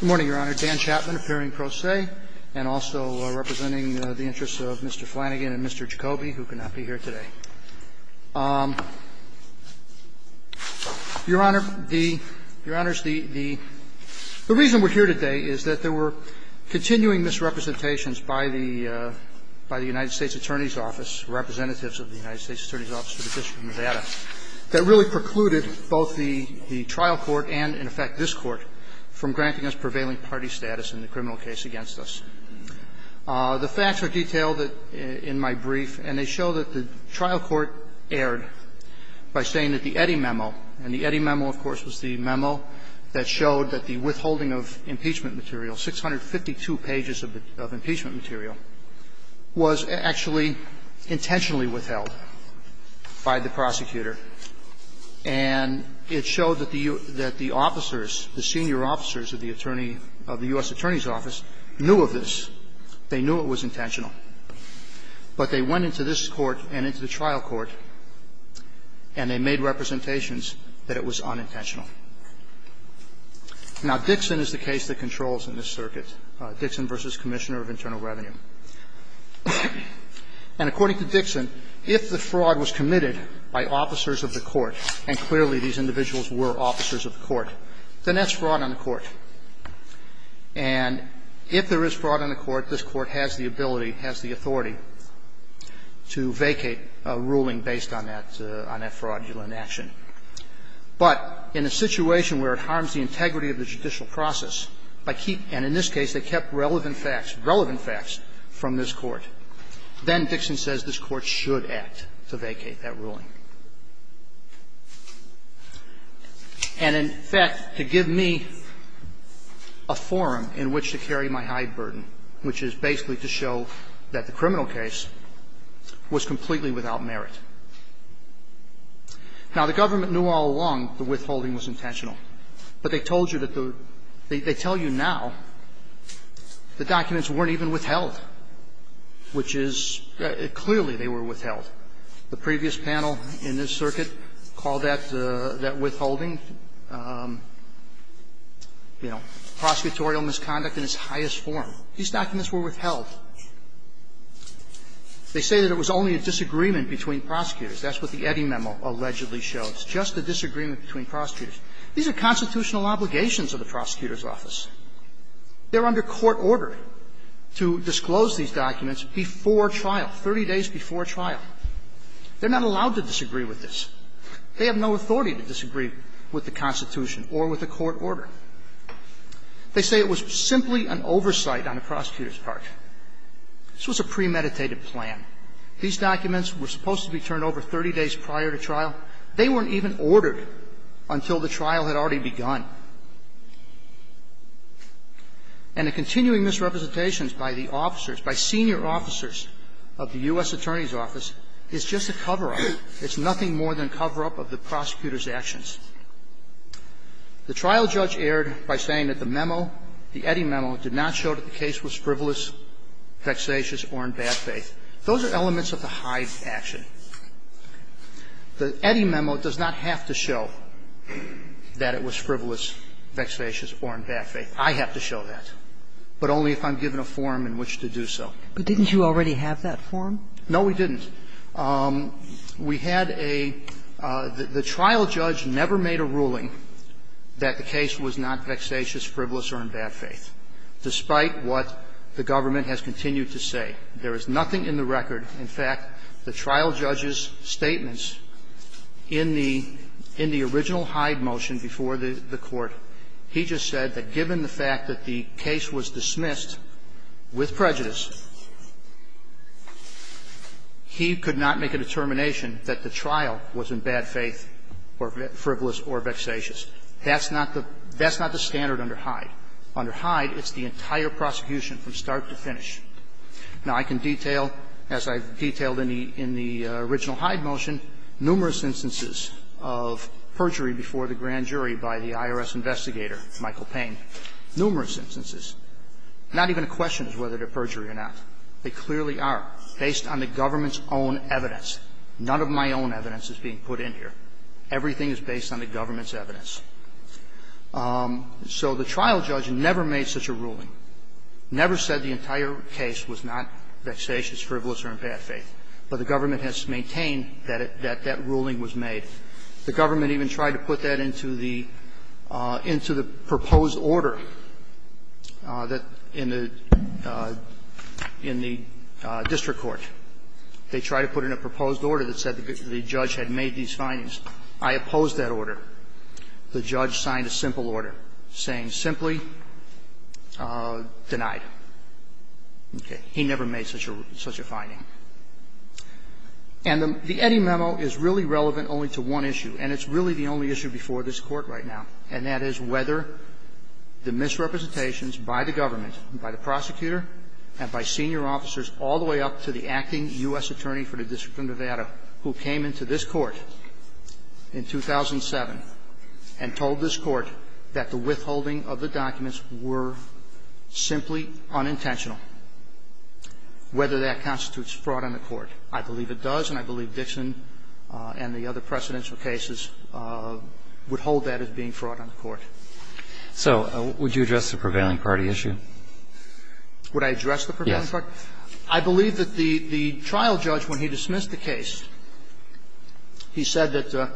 Good morning, Your Honor. Dan Chapman, appearing pro se, and also representing the interests of Mr. Flanagan and Mr. Jacoby, who could not be here today. Your Honor, the reason we're here today is that there were continuing misrepresentations by the United States Attorney's Office, representatives of the United States Attorney's Office of the District of Nevada, that really precluded both the trial court and, in effect, this Court, from granting us prevailing party status in the criminal case against us. The facts are detailed in my brief, and they show that the trial court erred by saying that the Eddy memo, and the Eddy memo, of course, was the memo that showed that the withholding of impeachment material, 652 pages of impeachment material, was actually intentionally withheld by the prosecutor. And it showed that the officers, the senior officers of the attorney of the U.S. Attorney's Office, knew of this. They knew it was intentional. But they went into this Court and into the trial court, and they made representations that it was unintentional. Now, Dixon is the case that controls in this circuit, Dixon v. Commissioner of Internal Revenue. And according to Dixon, if the fraud was committed by officers of the court, and clearly these individuals were officers of the court, then that's fraud on the court. And if there is fraud on the court, this Court has the ability, has the authority to vacate a ruling based on that fraudulent action. But in a situation where it harms the integrity of the judicial process, by keeping and, in this case, they kept relevant facts, relevant facts from this Court, then Dixon says this Court should act to vacate that ruling. And in fact, to give me a forum in which to carry my high burden, which is basically to show that the criminal case was completely without merit. Now, the government knew all along the withholding was intentional. But they told you that the – they tell you now the documents weren't even withheld, which is – clearly they were withheld. The previous panel in this circuit called that withholding, you know, prosecutorial misconduct in its highest form. These documents were withheld. They say that it was only a disagreement between prosecutors. That's what the Eddy memo allegedly shows, just a disagreement between prosecutors. These are constitutional obligations of the prosecutor's office. They're under court order to disclose these documents before trial, 30 days before trial. They're not allowed to disagree with this. They have no authority to disagree with the Constitution or with a court order. They say it was simply an oversight on the prosecutor's part. This was a premeditated plan. These documents were supposed to be turned over 30 days prior to trial. They weren't even ordered until the trial had already begun. And the continuing misrepresentations by the officers, by senior officers of the U.S. Attorney's Office is just a cover-up. It's nothing more than a cover-up of the prosecutor's actions. The trial judge erred by saying that the memo, the Eddy memo, did not show that the case was frivolous, vexatious, or in bad faith. Those are elements of the Hyde action. The Eddy memo does not have to show that it was frivolous, vexatious, or in bad faith. I have to show that, but only if I'm given a form in which to do so. Kagan. But didn't you already have that form? No, we didn't. We had a – the trial judge never made a ruling that the case was not vexatious, frivolous, or in bad faith, despite what the government has continued to say. There is nothing in the record. In fact, the trial judge's statements in the original Hyde motion before the Court, he just said that given the fact that the case was dismissed with prejudice, he could not make a determination that the trial was in bad faith or frivolous or vexatious. That's not the standard under Hyde. Under Hyde, it's the entire prosecution from start to finish. Now, I can detail, as I've detailed in the original Hyde motion, numerous instances of perjury before the grand jury by the IRS investigator, Michael Payne, numerous instances. Not even a question as to whether they're perjury or not. They clearly are, based on the government's own evidence. None of my own evidence is being put in here. Everything is based on the government's evidence. So the trial judge never made such a ruling, never said the entire case was not vexatious, frivolous, or in bad faith. But the government has maintained that that ruling was made. The government even tried to put that into the proposed order that in the district court, they tried to put in a proposed order that said the judge had made these findings. I opposed that order. The judge signed a simple order saying simply denied. Okay. He never made such a finding. And the Eddy memo is really relevant only to one issue, and it's really the only issue before this Court right now, and that is whether the misrepresentations by the government, by the prosecutor, and by senior officers all the way up to the And told this Court that the withholding of the documents were simply unintentional, whether that constitutes fraud on the Court. I believe it does, and I believe Dixon and the other precedential cases would hold that as being fraud on the Court. So would you address the prevailing party issue? Would I address the prevailing party? Yes. I believe that the trial judge, when he dismissed the case, he said that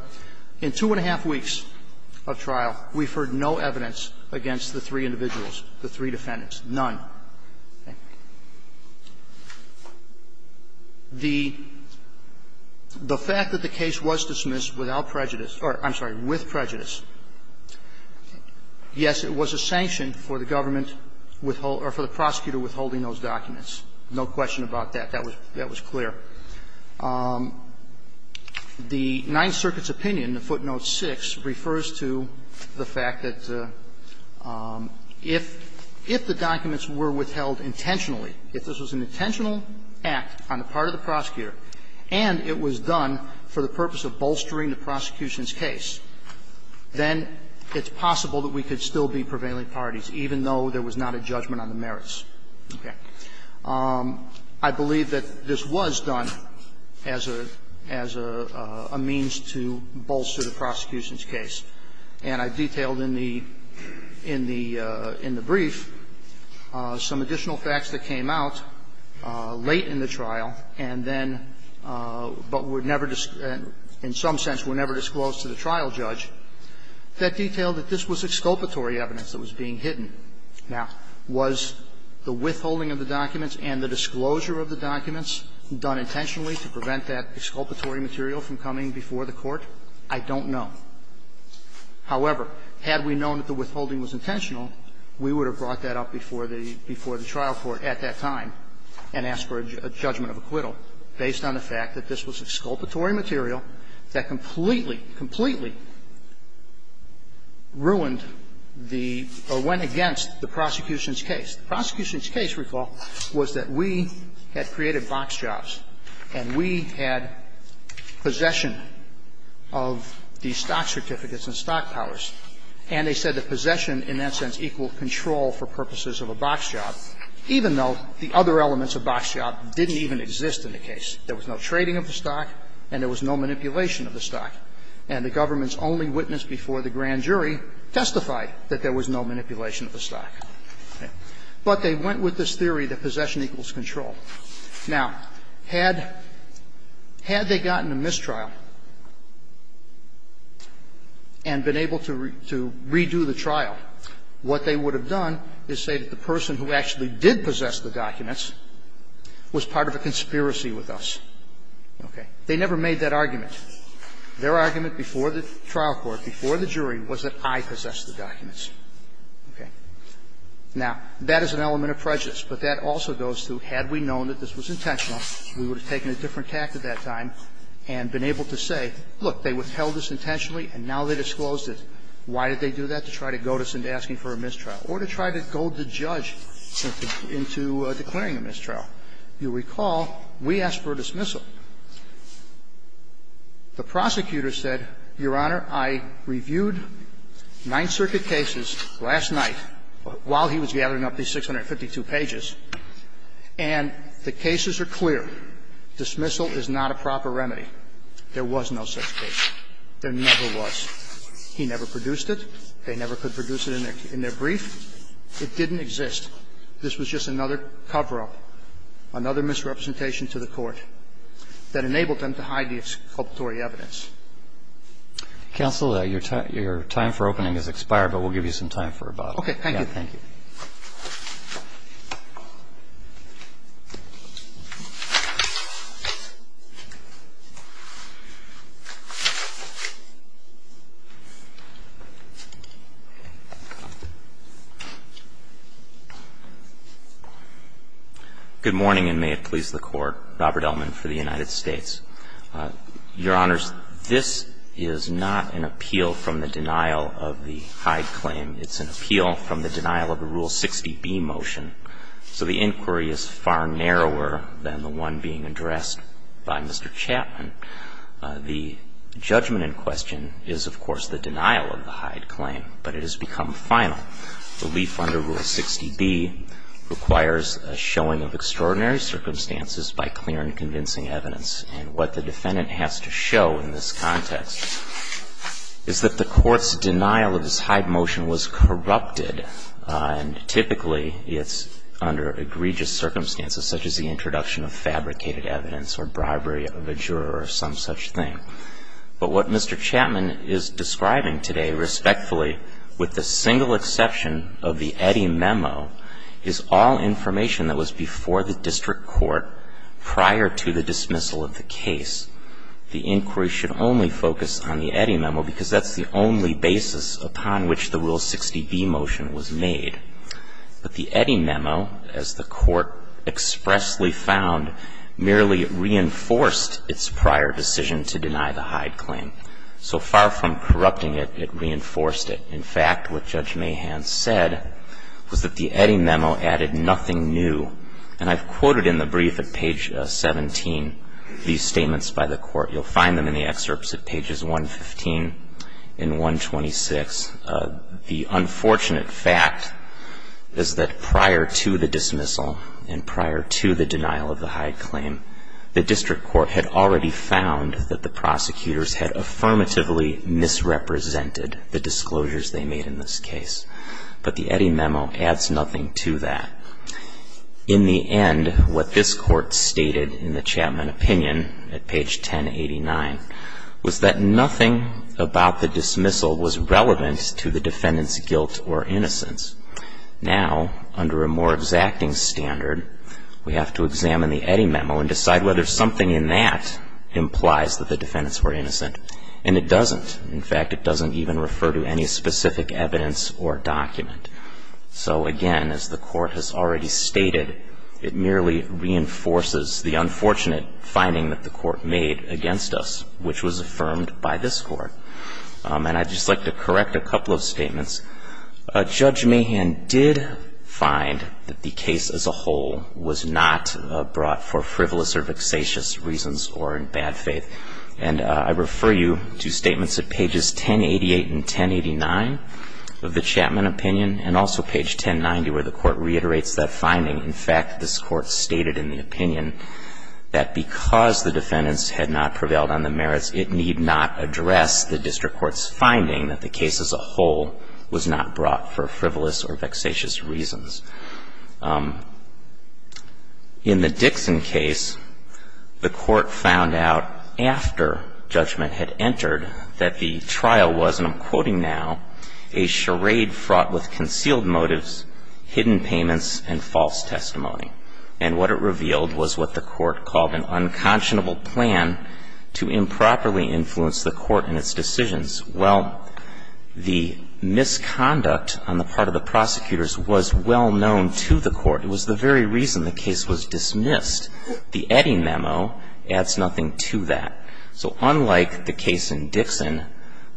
in two and a half weeks of trial, we've heard no evidence against the three individuals, the three defendants, none. The fact that the case was dismissed without prejudice or, I'm sorry, with prejudice, yes, it was a sanction for the government withholding or for the prosecutor withholding those documents. No question about that. That was clear. The Ninth Circuit's opinion, footnote 6, refers to the fact that if the documents were withheld intentionally, if this was an intentional act on the part of the prosecutor and it was done for the purpose of bolstering the prosecution's case, then it's possible that we could still be prevailing parties, even though there was not a judgment on the merits. Okay. I believe that this was done as a means to bolster the prosecution's case. And I detailed in the brief some additional facts that came out late in the trial and then, but were never, in some sense, were never disclosed to the trial judge. That detailed that this was exculpatory evidence that was being hidden. Now, was the withholding of the documents and the disclosure of the documents done intentionally to prevent that exculpatory material from coming before the court? I don't know. However, had we known that the withholding was intentional, we would have brought that up before the trial court at that time and asked for a judgment of acquittal based on the fact that this was exculpatory material that completely, completely ruined the, or went against the prosecution's case. The prosecution's case, recall, was that we had created box jobs and we had possession of the stock certificates and stock powers, and they said that possession, in that sense, equaled control for purposes of a box job, even though the other elements of box job didn't even exist in the case. There was no trading of the stock and there was no manipulation of the stock. And the government's only witness before the grand jury testified that there was no manipulation of the stock. But they went with this theory that possession equals control. Now, had they gotten a mistrial and been able to redo the trial, what they would have done is say that the person who actually did possess the documents was part of a conspiracy with us. Okay? They never made that argument. Their argument before the trial court, before the jury, was that I possessed the documents. Okay? Now, that is an element of prejudice, but that also goes to, had we known that this was intentional, we would have taken a different tact at that time and been able to say, look, they withheld this intentionally and now they disclosed it. Why did they do that? To try to goad us into asking for a mistrial or to try to goad the judge into declaring a mistrial. You recall, we asked for a dismissal. The prosecutor said, Your Honor, I reviewed Ninth Circuit cases last night while he was gathering up these 652 pages, and the cases are clear. Dismissal is not a proper remedy. There was no such case. There never was. He never produced it. They never could produce it in their brief. It didn't exist. This was just another cover-up, another misrepresentation to the Court that enabled them to hide the exculpatory evidence. Counsel, your time for opening has expired, but we'll give you some time for rebuttal. Thank you. Thank you. Good morning, and may it please the Court. Robert Ellman for the United States. Your Honors, this is not an appeal from the denial of the Hyde claim. It's an appeal from the denial of the Rule 60B motion. So the inquiry is far narrower than the one being addressed by Mr. Chapman. The judgment in question is, of course, the denial of the Hyde claim, but it has become final. Relief under Rule 60B requires a showing of extraordinary circumstances by clear and convincing evidence. And what the defendant has to show in this context is that the Court's denial of this Hyde motion was corrupted, and typically it's under egregious circumstances, such as the introduction of fabricated evidence or bribery of a juror or some such thing. But what Mr. Chapman is describing today, respectfully, with the single exception of the Eddy memo, is all information that was before the District Court prior to the dismissal of the case. The inquiry should only focus on the Eddy memo because that's the only basis upon which the Rule 60B motion was made. But the Eddy memo, as the Court expressly found, merely reinforced its prior decision to deny the Hyde claim. So far from corrupting it, it reinforced it. In fact, what Judge Mahan said was that the Eddy memo added nothing new. And I've quoted in the brief at page 17 these statements by the Court. You'll find them in the excerpts at pages 115 and 126. The unfortunate fact is that prior to the dismissal and prior to the denial of the Hyde claim, the District Court had already found that the prosecutors had affirmatively misrepresented the disclosures they made in this case. But the Eddy memo adds nothing to that. In the end, what this Court stated in the Chapman opinion at page 1089 was that nothing about the dismissal was relevant to the defendant's guilt or innocence. Now, under a more exacting standard, we have to examine the Eddy memo and decide whether something in that implies that the defendants were innocent. And it doesn't. In fact, it doesn't even refer to any specific evidence or document. So again, as the Court has already stated, it merely reinforces the unfortunate finding that the Court made against us, which was affirmed by this Court. And I'd just like to correct a couple of statements. Judge Mahan did find that the case as a whole was not brought for frivolous or vexatious reasons or in bad faith. And I refer you to statements at pages 1088 and 1089 of the Chapman opinion and also page 1090 where the Court reiterates that finding. In fact, this Court stated in the opinion that because the defendants had not prevailed on the merits, it need not address the district court's finding that the case as a whole was not brought for frivolous or vexatious reasons. In the Dixon case, the Court found out after judgment had entered that the trial was, and I'm quoting now, a charade fraught with concealed motives, hidden payments, and false testimony. And what it revealed was what the Court called an unconscionable plan to improperly influence the Court in its decisions. Well, the misconduct on the part of the prosecutors was well known to the Court. It was the very reason the case was dismissed. The Eddy memo adds nothing to that. So unlike the case in Dixon,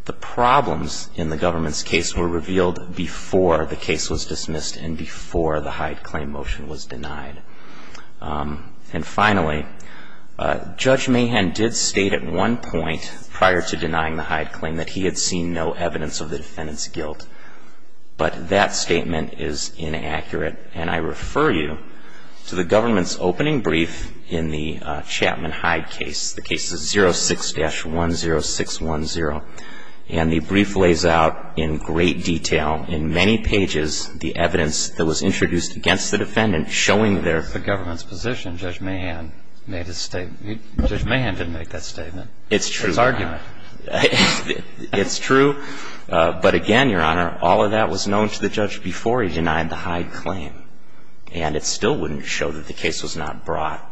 the problems in the government's case were revealed before the case was dismissed and before the Hyde claim motion was denied. And finally, Judge Mahan did state at one point prior to denying the Hyde claim that he had seen no evidence of the defendant's guilt. But that statement is inaccurate. And I refer you to the government's opening brief in the Chapman Hyde case. The case is 06-10610. And the brief lays out in great detail, in many pages, the evidence that was introduced against the defendant showing their... The government's position, Judge Mahan made his statement. Judge Mahan didn't make that statement. It's true. His argument. It's true. But again, Your Honor, all of that was known to the judge before he denied the Hyde claim. And it still wouldn't show that the case was not brought...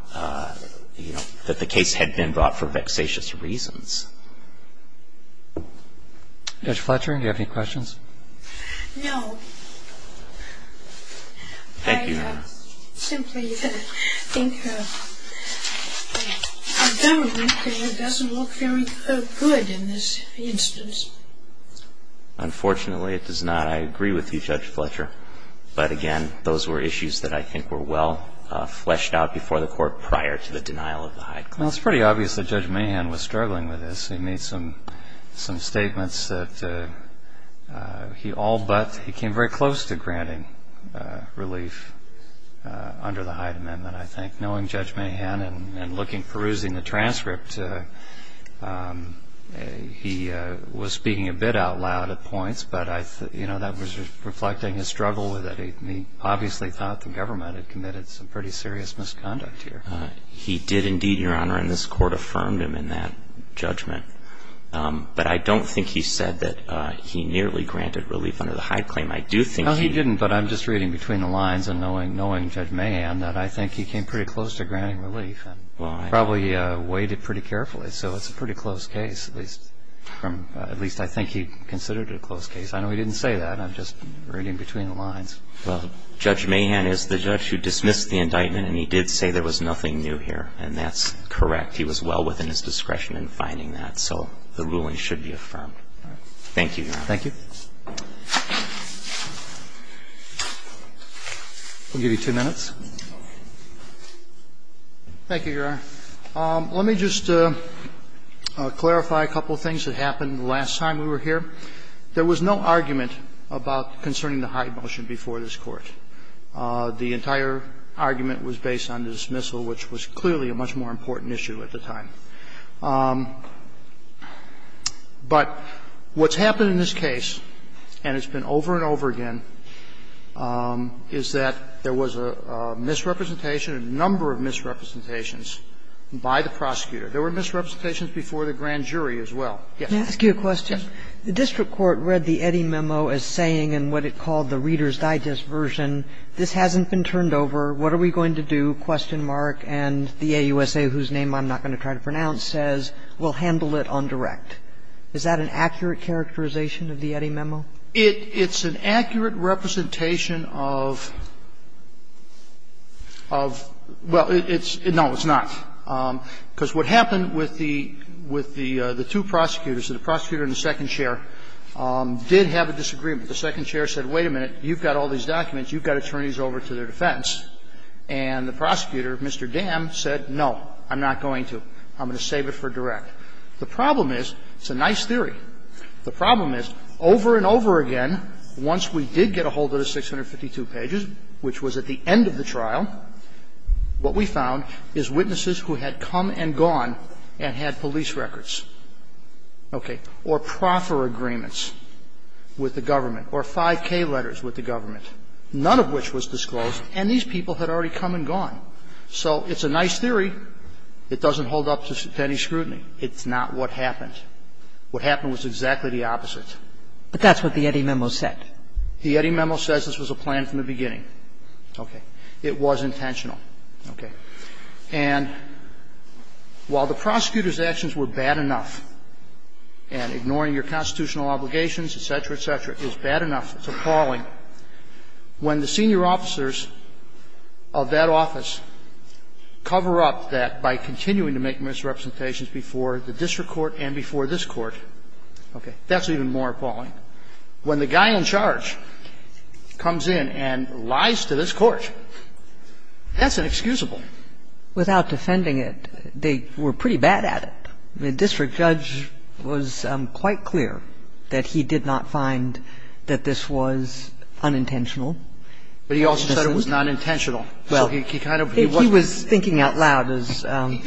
That the case had been brought for vexatious reasons. Judge Fletcher, do you have any questions? No. Thank you, Your Honor. I simply think the government doesn't look very good in this instance. Unfortunately, it does not. I agree with you, Judge Fletcher. But again, those were issues that I think were well fleshed out before the court prior to the denial of the Hyde claim. Well, it's pretty obvious that Judge Mahan was struggling with this. He made some statements that he all but... He came very close to granting relief under the Hyde Amendment, I think. Knowing Judge Mahan and looking, perusing the transcript, he was speaking a bit out loud at points. But that was reflecting his struggle with it. He obviously thought the government had committed some pretty serious misconduct here. He did indeed, Your Honor. And this court affirmed him in that judgment. But I don't think he said that he nearly granted relief under the Hyde claim. I do think he... No, he didn't. But I'm just reading between the lines and knowing Judge Mahan that I think he came pretty close to granting relief. Probably weighed it pretty carefully. So it's a pretty close case. At least I think he considered it a close case. I know he didn't say that. I'm just reading between the lines. Well, Judge Mahan is the judge who dismissed the indictment and he did say there was nothing new here. And that's correct. He was well within his discretion in finding that. So the ruling should be affirmed. Thank you, Your Honor. Thank you. We'll give you two minutes. Thank you, Your Honor. Let me just clarify a couple of things that happened the last time we were here. There was no argument about concerning the Hyde motion before this Court. The entire argument was based on the dismissal, which was clearly a much more important issue at the time. But what's happened in this case, and it's been over and over again, is that there was a misrepresentation, a number of misrepresentations, by the prosecutor. There were misrepresentations before the grand jury as well. Yes. Can I ask you a question? Yes. The district court read the Eddy Memo as saying in what it called the Reader's Digest version, this hasn't been turned over, what are we going to do, question mark, and the AUSA, whose name I'm not going to try to pronounce, says, we'll handle it on direct. Is that an accurate characterization of the Eddy Memo? It's an accurate representation of, well, no, it's not. Because what happened with the two prosecutors, the prosecutor and the second chair, did have a disagreement. The second chair said, wait a minute, you've got all these documents. You've got attorneys over to their defense. And the prosecutor, Mr. Dam, said, no, I'm not going to. I'm going to save it for direct. The problem is, it's a nice theory. The problem is, over and over again, once we did get a hold of the 652 pages, which was at the end of the trial, what we found is witnesses who had come and gone and had police records, okay, or proffer agreements with the government, or 5K letters with the government, none of which was disclosed, and these people had already come and gone. So it's a nice theory. It doesn't hold up to any scrutiny. It's not what happened. What happened was the opposite. What happened was exactly the opposite. But that's what the Eddy Memo said. The Eddy Memo says this was a plan from the beginning. Okay. It was intentional. Okay. And while the prosecutor's actions were bad enough, and ignoring your constitutional obligations, et cetera, et cetera, is bad enough, it's appalling, when the senior judge comes in and lies to this court, that's inexcusable. Without defending it, they were pretty bad at it. The district judge was quite clear that he did not find that this was unintentional. But he also said it was nonintentional. Well, he was thinking out loud, as the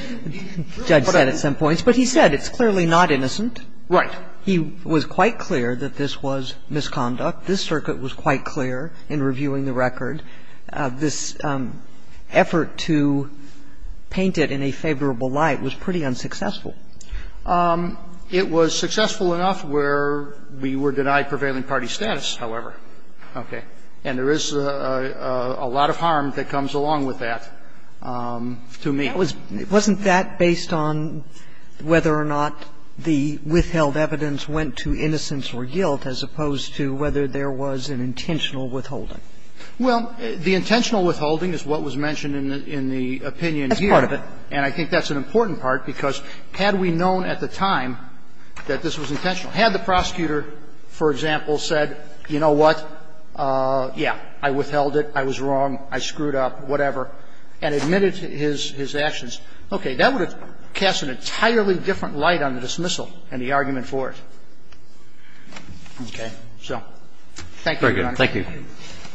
judge said at some points. But he said it's clearly not intentional. He said it's clearly not intentional. He said it's clearly not intentional. He said it's clearly not innocent. Right. He was quite clear that this was misconduct. This circuit was quite clear in reviewing the record. This effort to paint it in a favorable light was pretty unsuccessful. It was successful enough where we were denied prevailing party status, however. Okay. And there is a lot of harm that comes along with that to me. Wasn't that based on whether or not the withheld evidence went to innocence or guilt as opposed to whether there was an intentional withholding? Well, the intentional withholding is what was mentioned in the opinion here. That's part of it. And I think that's an important part, because had we known at the time that this was intentional, had the prosecutor, for example, said, you know what, yeah, I withheld it, I was wrong, I screwed up, whatever, and admitted his actions, okay, that would have cast an entirely different light on the dismissal and the argument for it. Okay. So thank you, Your Honor. Thank you.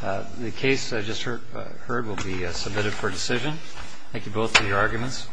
The case I just heard will be submitted for decision. Thank you both for your arguments.